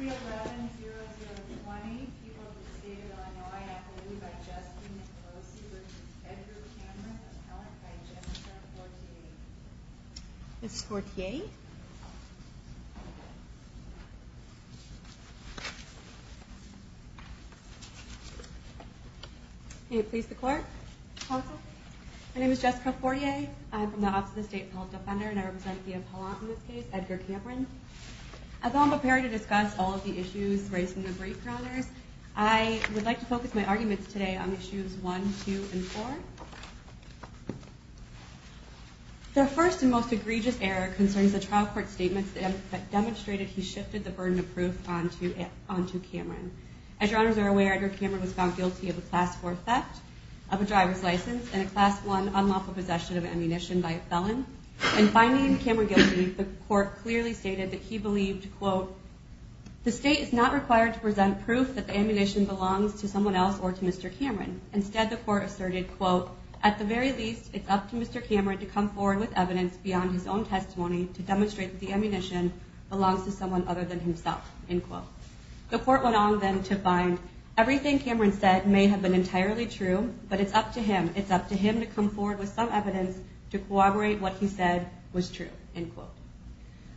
311-0020. People have been stated on my affidavit by Jessica Forcier v. Edgar Cameron, appellant by Jessica Fortier. Ms. Fortier? May it please the Court? Counsel? My name is Jessica Fortier. I'm from the Office of the State Appellant Defender, and I represent the appellant in this case, Edgar Cameron. As I'm preparing to discuss all of the issues raised in the brief, Your Honors, I would like to focus my arguments today on issues 1, 2, and 4. The first and most egregious error concerns the trial court statements that demonstrated he shifted the burden of proof onto Cameron. As Your Honors are aware, Edgar Cameron was found guilty of a Class 4 theft of a driver's license and a Class 1 unlawful possession of ammunition by a felon. In finding Cameron guilty, the court clearly stated that he believed, quote, the State is not required to present proof that the ammunition belongs to someone else or to Mr. Cameron. Instead, the court asserted, quote, at the very least, it's up to Mr. Cameron to come forward with evidence beyond his own testimony to demonstrate that the ammunition belongs to someone other than himself, end quote. The court went on then to find everything Cameron said may have been entirely true, but it's up to him. It's up to him to come forward with some evidence to corroborate what he said was true, end quote.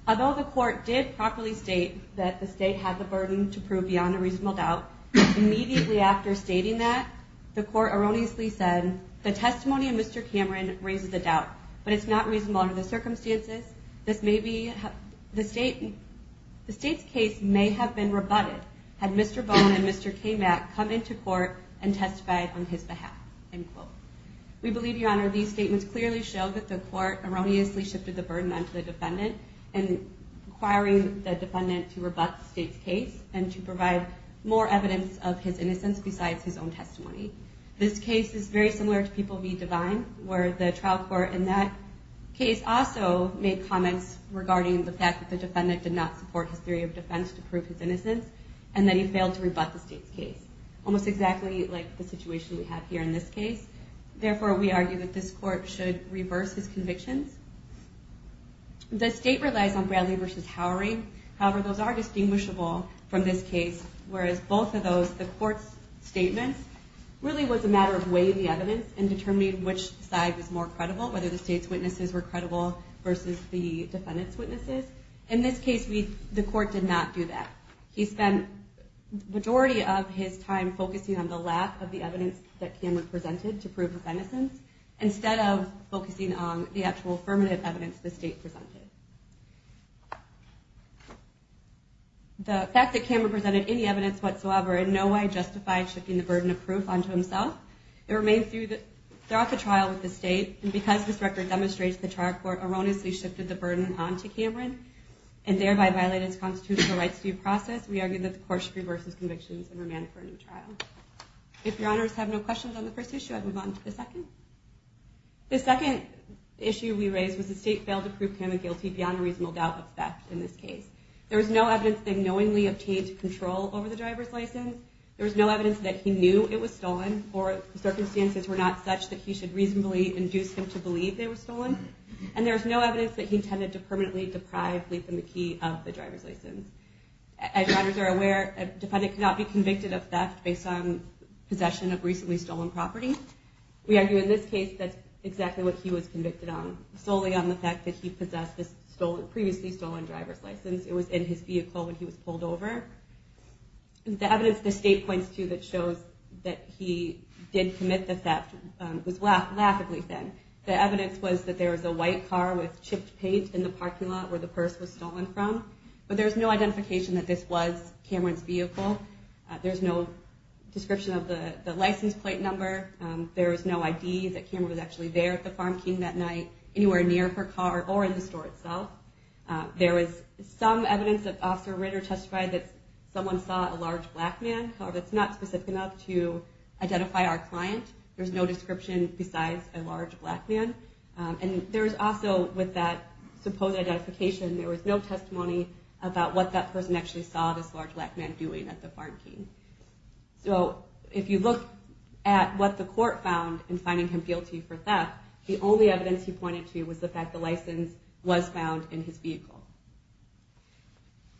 Although the court did properly state that the State had the burden to prove beyond a reasonable doubt, immediately after stating that, the court erroneously said, the testimony of Mr. Cameron raises a doubt, but it's not reasonable under the circumstances. The State's case may have been rebutted had Mr. Bone and Mr. Kamak come into court and testified on his behalf, end quote. We believe, Your Honor, these statements clearly show that the court erroneously shifted the burden onto the defendant and requiring the defendant to rebut the State's case and to provide more evidence of his innocence besides his own testimony. This case is very similar to People v. Divine, where the trial court in that case also made comments regarding the fact that the defendant did not support his theory of defense to prove his innocence, and that he failed to rebut the State's case, almost exactly like the situation we have here in this case. Therefore, we argue that this court should reverse his convictions. The State relies on Bradley v. Howering. However, those are distinguishable from this case, whereas both of those, the court's statements, really was a matter of weighing the evidence and determining which side was more credible, whether the State's witnesses were credible versus the defendant's witnesses. In this case, the court did not do that. He spent the majority of his time focusing on the lack of the evidence that Cameron presented to prove his innocence, instead of focusing on the actual affirmative evidence the State presented. The fact that Cameron presented any evidence whatsoever in no way justified shifting the burden of proof onto himself. It remained throughout the trial with the State, and because this record demonstrates the trial court erroneously shifted the burden onto Cameron and thereby violated his constitutional rights due process, we argue that the court should reverse his convictions and remand him for a new trial. If your honors have no questions on the first issue, I'd move on to the second. The second issue we raised was the State failed to prove Cameron guilty beyond a reasonable doubt of theft in this case. There was no evidence that he knowingly obtained control over the driver's license. There was no evidence that he knew it was stolen, or circumstances were not such that he should reasonably induce him to believe they were stolen. And there was no evidence that he intended to permanently deprive Lief and McKee of the driver's license. As your honors are aware, a defendant cannot be convicted of theft based on possession of recently stolen property. We argue in this case that's exactly what he was convicted on. Solely on the fact that he possessed this previously stolen driver's license. It was in his vehicle when he was pulled over. The evidence the State points to that shows that he did commit the theft was laughably thin. The evidence was that there was a white car with chipped paint in the parking lot where the purse was stolen from. But there's no identification that this was Cameron's vehicle. There's no description of the license plate number. There was no ID that Cameron was actually there at the Farm King that night, anywhere near her car or in the store itself. There was some evidence that Officer Ritter testified that someone saw a large black man. However, that's not specific enough to identify our client. There's no description besides a large black man. With that supposed identification, there was no testimony about what that person actually saw this large black man doing at the Farm King. If you look at what the court found in finding him guilty for theft, the only evidence he pointed to was the fact the license was found in his vehicle.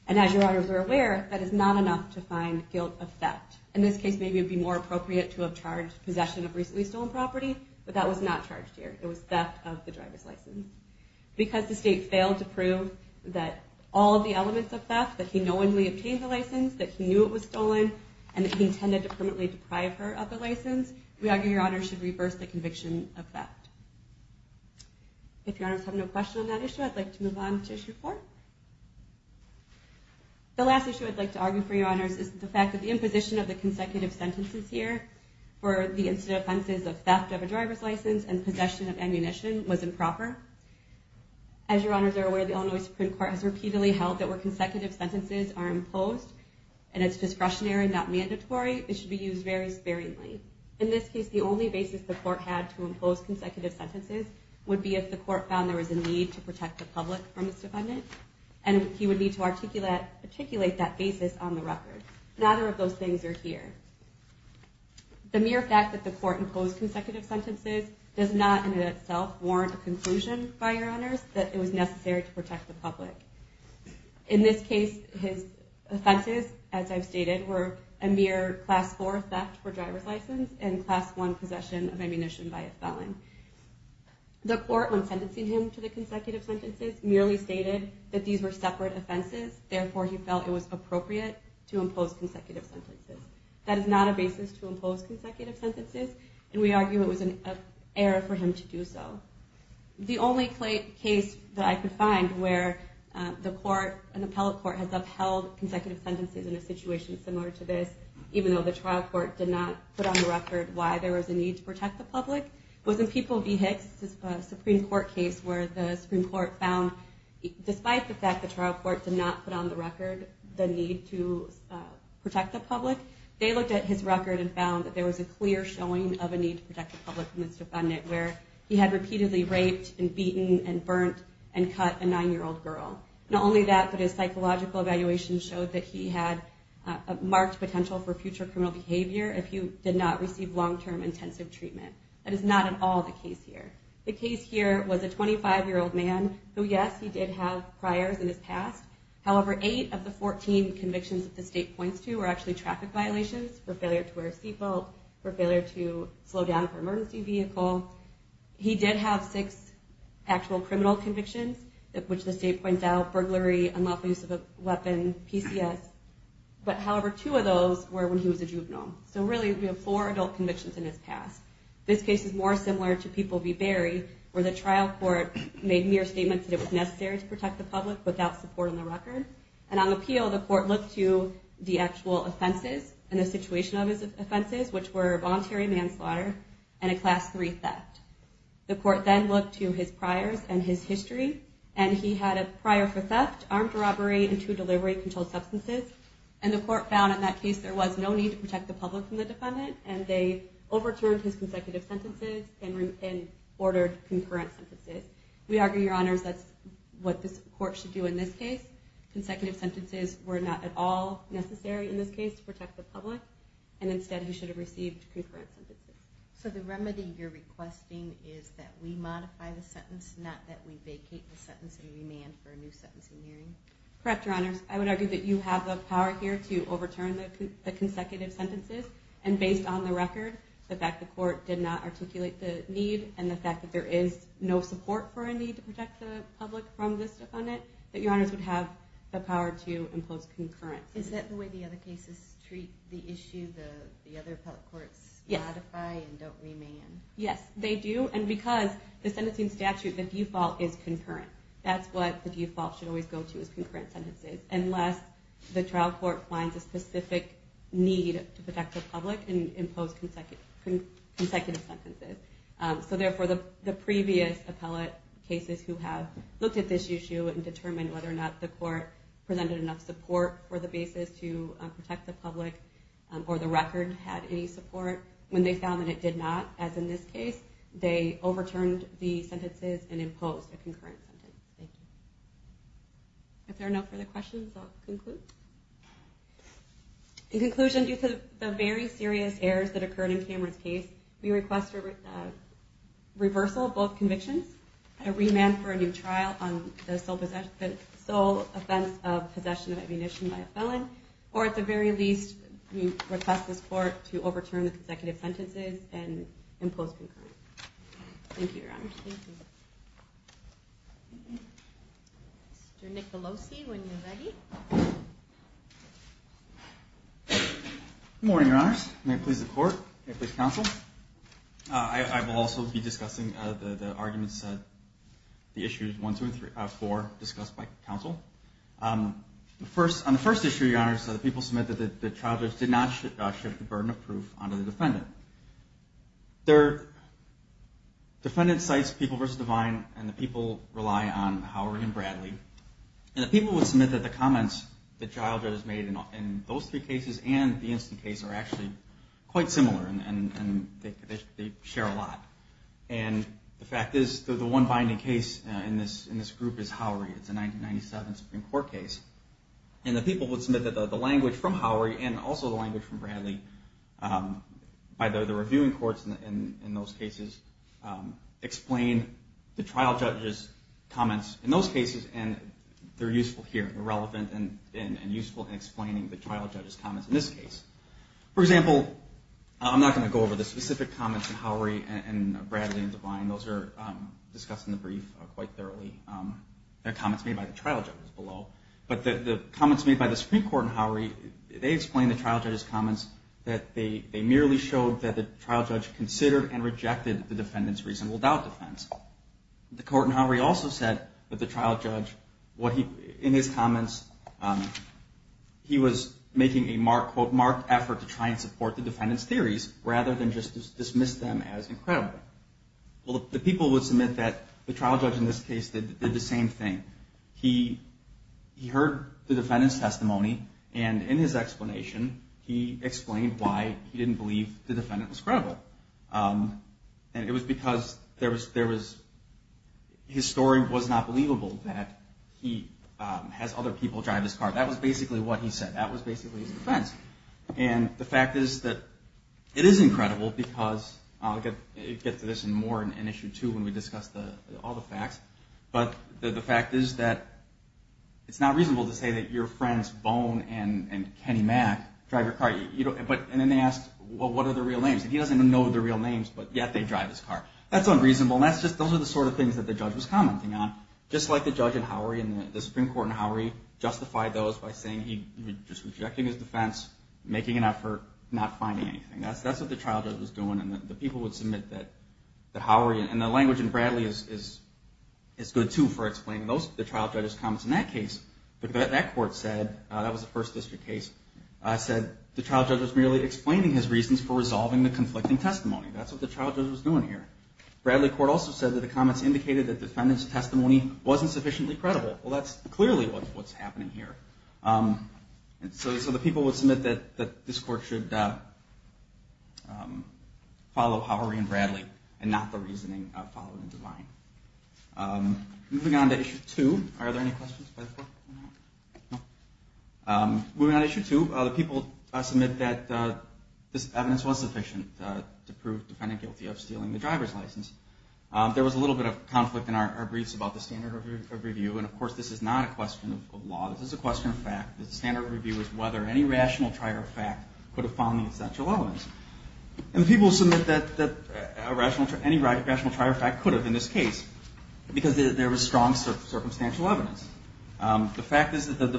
As your honors are aware, that is not enough to find guilt of theft. In this case, maybe it would be more appropriate to have charged possession of recently stolen property, but that was not charged here. It was theft of the driver's license. Because the state failed to prove that all of the elements of theft, that he knowingly obtained the license, that he knew it was stolen, and that he intended to permanently deprive her of the license, we argue your honors should reverse the conviction of theft. If your honors have no question on that issue, I'd like to move on to issue four. The last issue I'd like to argue for your honors is the fact that the imposition of the consecutive sentences here for the incident offenses of theft of a driver's license and possession of ammunition was improper. As your honors are aware, the Illinois Supreme Court has repeatedly held that where consecutive sentences are imposed, and it's discretionary, not mandatory, it should be used very sparingly. In this case, the only basis the court had to impose consecutive sentences would be if the court found there was a need to protect the public from this defendant, and he would need to articulate that basis on the record. Neither of those things are here. The mere fact that the court imposed consecutive sentences does not in itself warrant a conclusion by your honors that it was necessary to protect the public. In this case, his offenses, as I've stated, were a mere class four theft for driver's license and class one possession of ammunition by a felon. The court, when sentencing him to the consecutive sentences, merely stated that these were separate offenses, therefore he felt it was appropriate to impose consecutive sentences. That is not a basis to impose consecutive sentences, and we argue it was an error for him to do so. The only case that I could find where the court, an appellate court, has upheld consecutive sentences in a situation similar to this, even though the trial court did not put on the record why there was a need to protect the public, was in People v. Hicks, a Supreme Court case where the Supreme Court found, despite the fact the trial court did not put on the record the need to protect the public, they looked at his record and found that there was a clear showing of a need to protect the public in this defendant where he had repeatedly raped and beaten and burnt and cut a nine-year-old girl. Not only that, but his psychological evaluation showed that he had a marked potential for future criminal behavior if he did not receive long-term intensive treatment. That is not at all the case here. The case here was a 25-year-old man who, yes, he did have priors in his past. However, eight of the 14 convictions that the state points to were actually traffic violations for failure to wear a seatbelt, for failure to slow down for emergency vehicle. He did have six actual criminal convictions, which the state points out, burglary, unlawful use of a weapon, PCS. But, however, two of those were when he was a juvenile. So really, we have four adult convictions in his past. This case is more similar to People v. Berry, where the trial court made mere statements that it was necessary to protect the public without support on the record. And on appeal, the court looked to the actual offenses and the situation of his offenses, which were voluntary manslaughter and a Class III theft. The court then looked to his priors and his history, and he had a prior for theft, armed robbery, and two delivery-controlled substances. And the court found in that case there was no need to protect the public from the defendant, and they overturned his consecutive sentences and ordered concurrent sentences. We argue, Your Honors, that's what this court should do in this case. Consecutive sentences were not at all necessary in this case to protect the public, and instead he should have received concurrent sentences. So the remedy you're requesting is that we modify the sentence, not that we vacate the sentence and remand for a new sentencing hearing? Correct, Your Honors. I would argue that you have the power here to overturn the consecutive sentences, and based on the record, the fact the court did not articulate the need and the fact that there is no support for a need to protect the public from this defendant, that Your Honors would have the power to impose concurrent sentences. Is that the way the other cases treat the issue? The other appellate courts modify and don't remand? Yes, they do, and because the sentencing statute, the default is concurrent. That's what the default should always go to is concurrent sentences, unless the trial court finds a specific need to protect the public and impose consecutive sentences. So therefore, the previous appellate cases who have looked at this issue and determined whether or not the court presented enough support for the basis to protect the public or the record had any support, when they found that it did not, as in this case, they overturned the sentences and imposed a concurrent sentence. Thank you. If there are no further questions, I'll conclude. In conclusion, due to the very serious errors that occurred in Cameron's case, we request a reversal of both convictions, a remand for a new trial on the sole offense of possession of ammunition by a felon, or at the very least, we request this court to overturn the consecutive sentences and impose concurrent. Thank you, Your Honors. Mr. Nicolosi, when you're ready. Good morning, Your Honors. May it please the court, may it please counsel. I will also be discussing the arguments, the issues 1, 2, and 4 discussed by counsel. On the first issue, Your Honors, the people submit that the charges did not shift the burden of proof onto the defendant. The defendant cites People v. Divine, and the people rely on Howery and Bradley. And the people would submit that the comments that Childred has made in those three cases and the instant case are actually quite similar, and they share a lot. And the fact is, the one binding case in this group is Howery. It's a 1997 Supreme Court case. And the people would submit that the language from Howery and also the language from Bradley by the reviewing courts in those cases explain the trial judge's comments in those cases, and they're useful here, relevant and useful in explaining the trial judge's comments in this case. For example, I'm not going to go over the specific comments in Howery and Bradley and Divine. Those are discussed in the brief quite thoroughly. They're comments made by the trial judges below. But the comments made by the Supreme Court in Howery, they explain the trial judge's comments that they merely showed that the trial judge considered and rejected the defendant's reasonable doubt defense. The court in Howery also said that the trial judge, in his comments, he was making a, quote, marked effort to try and support the defendant's theories rather than just dismiss them as incredible. Well, the people would submit that the trial judge in this case did the same thing. He heard the defendant's testimony, and in his explanation, he explained why he didn't believe the defendant was credible. And it was because there was, his story was not believable that he has other people drive his car. That was basically what he said. That was basically his defense. And the fact is that it is incredible because, I'll get to this in more in Issue 2 when we discuss all the facts. But the fact is that it's not reasonable to say that your friends Bone and Kenny Mack drive your car. And then they asked, well, what are the real names? And he doesn't even know the real names, but yet they drive his car. That's unreasonable. And that's just, those are the sort of things that the judge was commenting on. Just like the judge in Howery and the Supreme Court in Howery justified those by saying he was just rejecting his defense, making an effort, not finding anything. That's what the trial judge was doing. And the people would submit that Howery, and the language in Bradley is good, too, for explaining the trial judge's comments in that case. But that court said, that was a First District case, said the trial judge was merely explaining his reasons for resolving the conflicting testimony. That's what the trial judge was doing here. Bradley Court also said that the comments indicated that the defendant's testimony wasn't sufficiently credible. Well, that's clearly what's happening here. So the people would submit that this court should follow Howery and Bradley and not the reasoning followed in Devine. Moving on to issue two. Are there any questions by the court? No? Moving on to issue two, the people submit that this evidence was sufficient to prove the defendant guilty of stealing the driver's license. There was a little bit of conflict in our briefs about the standard of review. And, of course, this is not a question of law. This is a question of fact. The standard of review is whether any rational trier of fact could have found the essential evidence. And the people submit that any rational trier of fact could have in this case because there was strong circumstantial evidence. The fact is that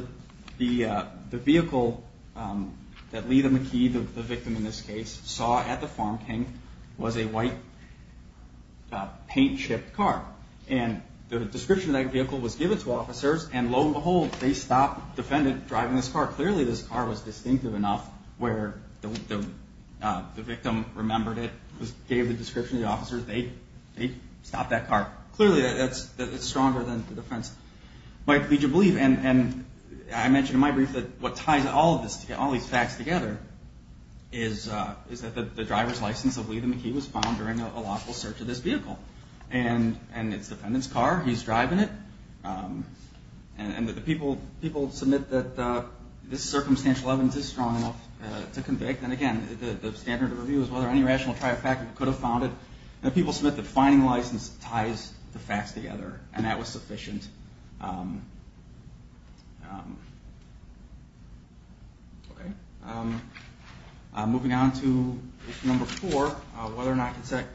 the vehicle that Letha McKee, the victim in this case, saw at the Farm King was a white paint-chipped car. And the description of that vehicle was given to officers, and lo and behold, they stopped the defendant driving this car. Clearly, this car was distinctive enough where the victim remembered it, gave the description to the officers, they stopped that car. Clearly, it's stronger than the defense might lead you to believe. And I mentioned in my brief that what ties all of these facts together is that the driver's license of Letha McKee was found during a lawful search of this vehicle. And it's the defendant's car. He's driving it. And the people submit that this circumstantial evidence is strong enough to convict. And, again, the standard of review is whether any rational trier of fact could have found it. And the people submit that finding the license ties the facts together, and that was sufficient. Moving on to issue number four, whether or not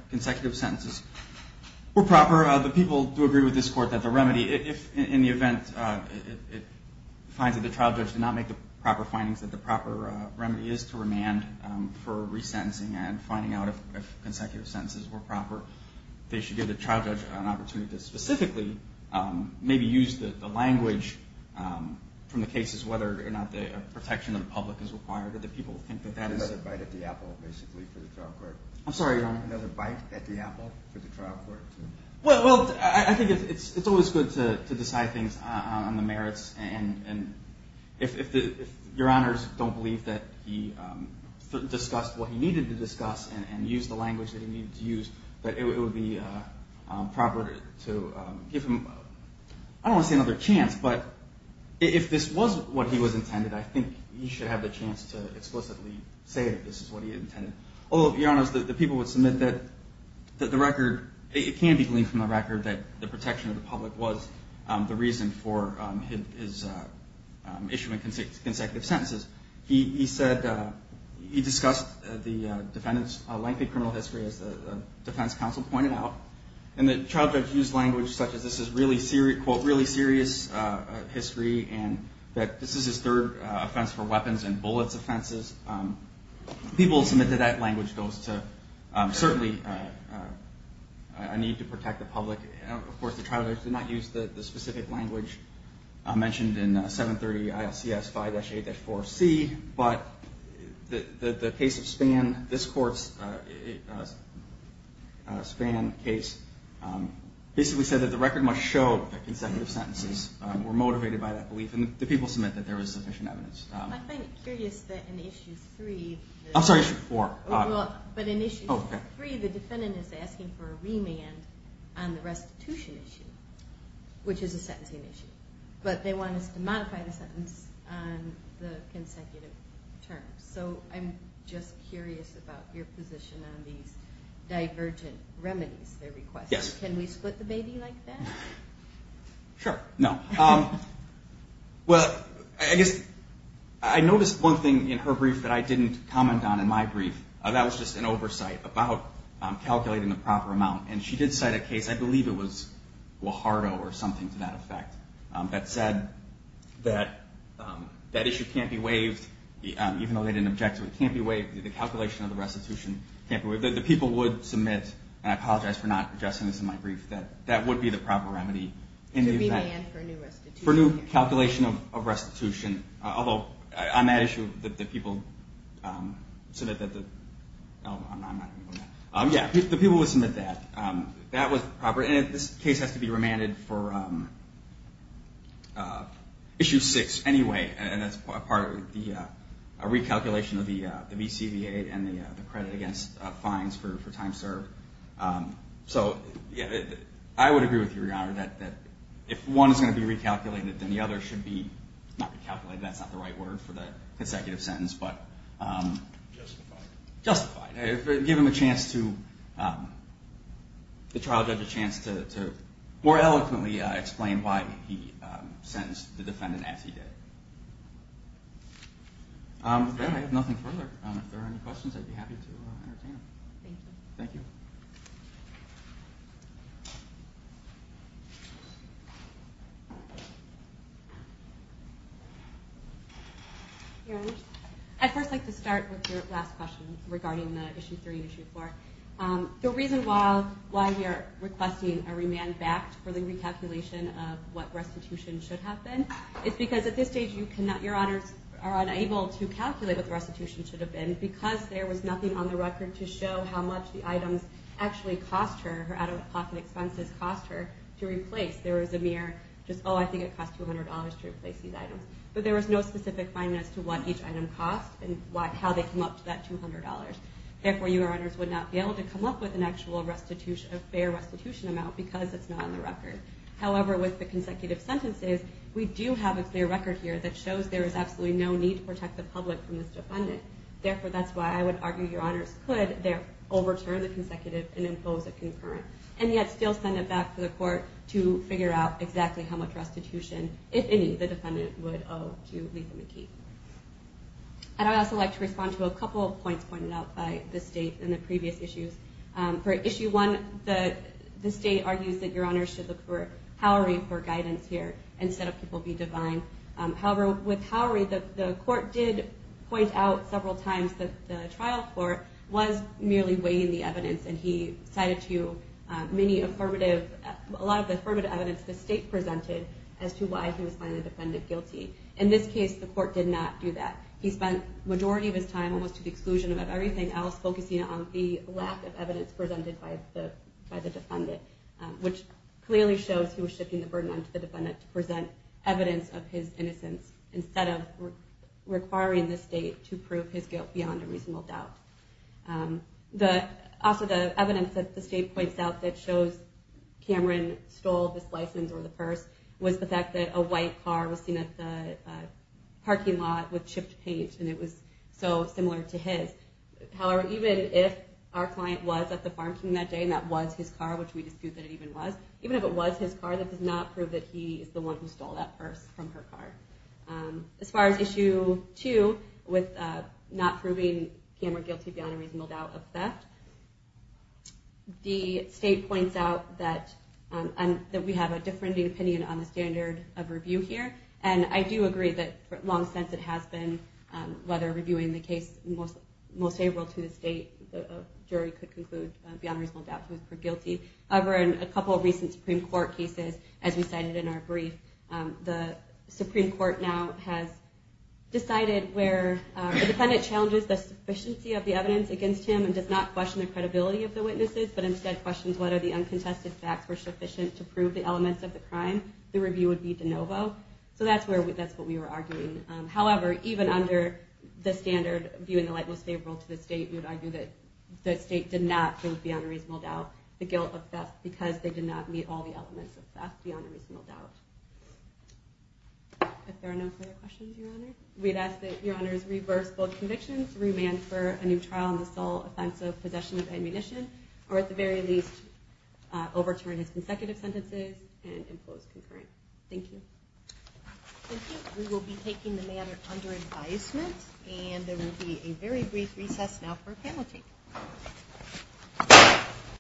consecutive sentences were proper. The people do agree with this court that the remedy, if in the event it finds that the trial judge did not make the proper findings, that the proper remedy is to remand for resentencing and finding out if consecutive sentences were proper. They should give the trial judge an opportunity to specifically maybe use the language from the cases whether or not the protection of the public is required. Do the people think that that is... Another bite at the apple, basically, for the trial court. I'm sorry, Your Honor. Another bite at the apple for the trial court to... Well, I think it's always good to decide things on the merits. And if Your Honors don't believe that he discussed what he needed to discuss and used the language that he needed to use, that it would be proper to give him... I don't want to say another chance, but if this was what he was intended, I think he should have the chance to explicitly say that this is what he intended. Although, Your Honors, the people would submit that the record... It can be gleaned from the record that the protection of the public was the reason for his issuing consecutive sentences. He discussed the defendant's lengthy criminal history, as the defense counsel pointed out, and the trial judge used language such as this is really serious history and that this is his third offense for weapons and bullets offenses. People submit that that language goes to certainly a need to protect the public. Of course, the trial judge did not use the specific language mentioned in 730 ILCS 5-8-4C, but the case of Spann, this court's Spann case, basically said that the record must show that consecutive sentences were motivated by that belief. And the people submit that there was sufficient evidence. I find it curious that in Issue 3... I'm sorry, Issue 4. But in Issue 3, the defendant is asking for a remand on the restitution issue, which is a sentencing issue, but they want us to modify the sentence on the consecutive terms. So I'm just curious about your position on these divergent remedies they request. Can we split the baby like that? Sure. No. Well, I noticed one thing in her brief that I didn't comment on in my brief. That was just an oversight about calculating the proper amount. And she did cite a case, I believe it was Guajardo or something to that effect, that said that that issue can't be waived, even though they didn't object to it. It can't be waived. The calculation of the restitution can't be waived. The people would submit, and I apologize for not addressing this in my brief, that that would be the proper remedy. To remand for new restitution. For new calculation of restitution. Although, on that issue, that the people submit that the... Yeah, the people would submit that. That was proper. And this case has to be remanded for Issue 6 anyway. And that's part of the recalculation of the VCBA and the credit against fines for time served. So I would agree with you, Your Honor, that if one is going to be recalculated, then the other should be not recalculated. That's not the right word for the consecutive sentence, but... Give him a chance to... The trial judge a chance to more eloquently explain why he sentenced the defendant as he did. With that, I have nothing further. If there are any questions, I'd be happy to entertain them. Thank you. Thank you. Your Honor, I'd first like to start with your last question regarding Issue 3 and Issue 4. The reason why we are requesting a remand back for the recalculation of what restitution should have been is because at this stage, Your Honors are unable to calculate what the restitution should have been because there was nothing on the record to show how much the items actually cost her, how much her out-of-pocket expenses cost her to replace. There was a mere, just, oh, I think it cost $200 to replace these items. But there was no specific fine as to what each item cost and how they came up to that $200. Therefore, Your Honors would not be able to come up with an actual fair restitution amount because it's not on the record. However, with the consecutive sentences, we do have a clear record here that shows there is absolutely no need to protect the public from this defendant. Therefore, that's why I would argue Your Honors could overturn the consecutive and impose a concurrent, and yet still send it back to the court to figure out exactly how much restitution, if any, the defendant would owe to Letha McKee. And I'd also like to respond to a couple of points pointed out by the State in the previous issues. For Issue 1, the State argues that Your Honors should look for Howery for guidance here instead of people being divine. However, with Howery, the court did point out several times that the trial court was merely weighing the evidence. And he cited to you a lot of the affirmative evidence the State presented as to why he was finding the defendant guilty. In this case, the court did not do that. He spent the majority of his time almost to the exclusion of everything else focusing on the lack of evidence presented by the defendant, which clearly shows he was shifting the burden onto the defendant to present evidence of his innocence instead of requiring the State to prove his guilt beyond a reasonable doubt. Also, the evidence that the State points out that shows Cameron stole this license or the purse was the fact that a white car was seen at the parking lot with chipped paint, and it was so similar to his. However, even if our client was at the Farm King that day and that was his car, which we dispute that it even was, even if it was his car, that does not prove that he is the one who stole that purse from her car. As far as Issue 2 with not proving Cameron guilty beyond a reasonable doubt of theft, the State points out that we have a differing opinion on the standard of review here, and I do agree that for a long sense it has been whether reviewing the case most favorable to the State, the jury could conclude beyond a reasonable doubt he was proved guilty. However, in a couple of recent Supreme Court cases, as we cited in our brief, the Supreme Court now has decided where the defendant challenges the sufficiency of the evidence against him and does not question the credibility of the witnesses, but instead questions whether the uncontested facts were sufficient to prove the elements of the crime, the review would be de novo. So that's what we were arguing. However, even under the standard of viewing the light most favorable to the State, we would argue that the State did not prove beyond a reasonable doubt the guilt of theft because they did not meet all the elements of theft beyond a reasonable doubt. If there are no further questions, Your Honor, we'd ask that Your Honors reverse both convictions, remand for a new trial in the sole offense of possession of ammunition, or at the very least overturn his consecutive sentences and impose concurrent. Thank you. Thank you. We will be taking the matter under advisement, and there will be a very brief recess now for a panel take.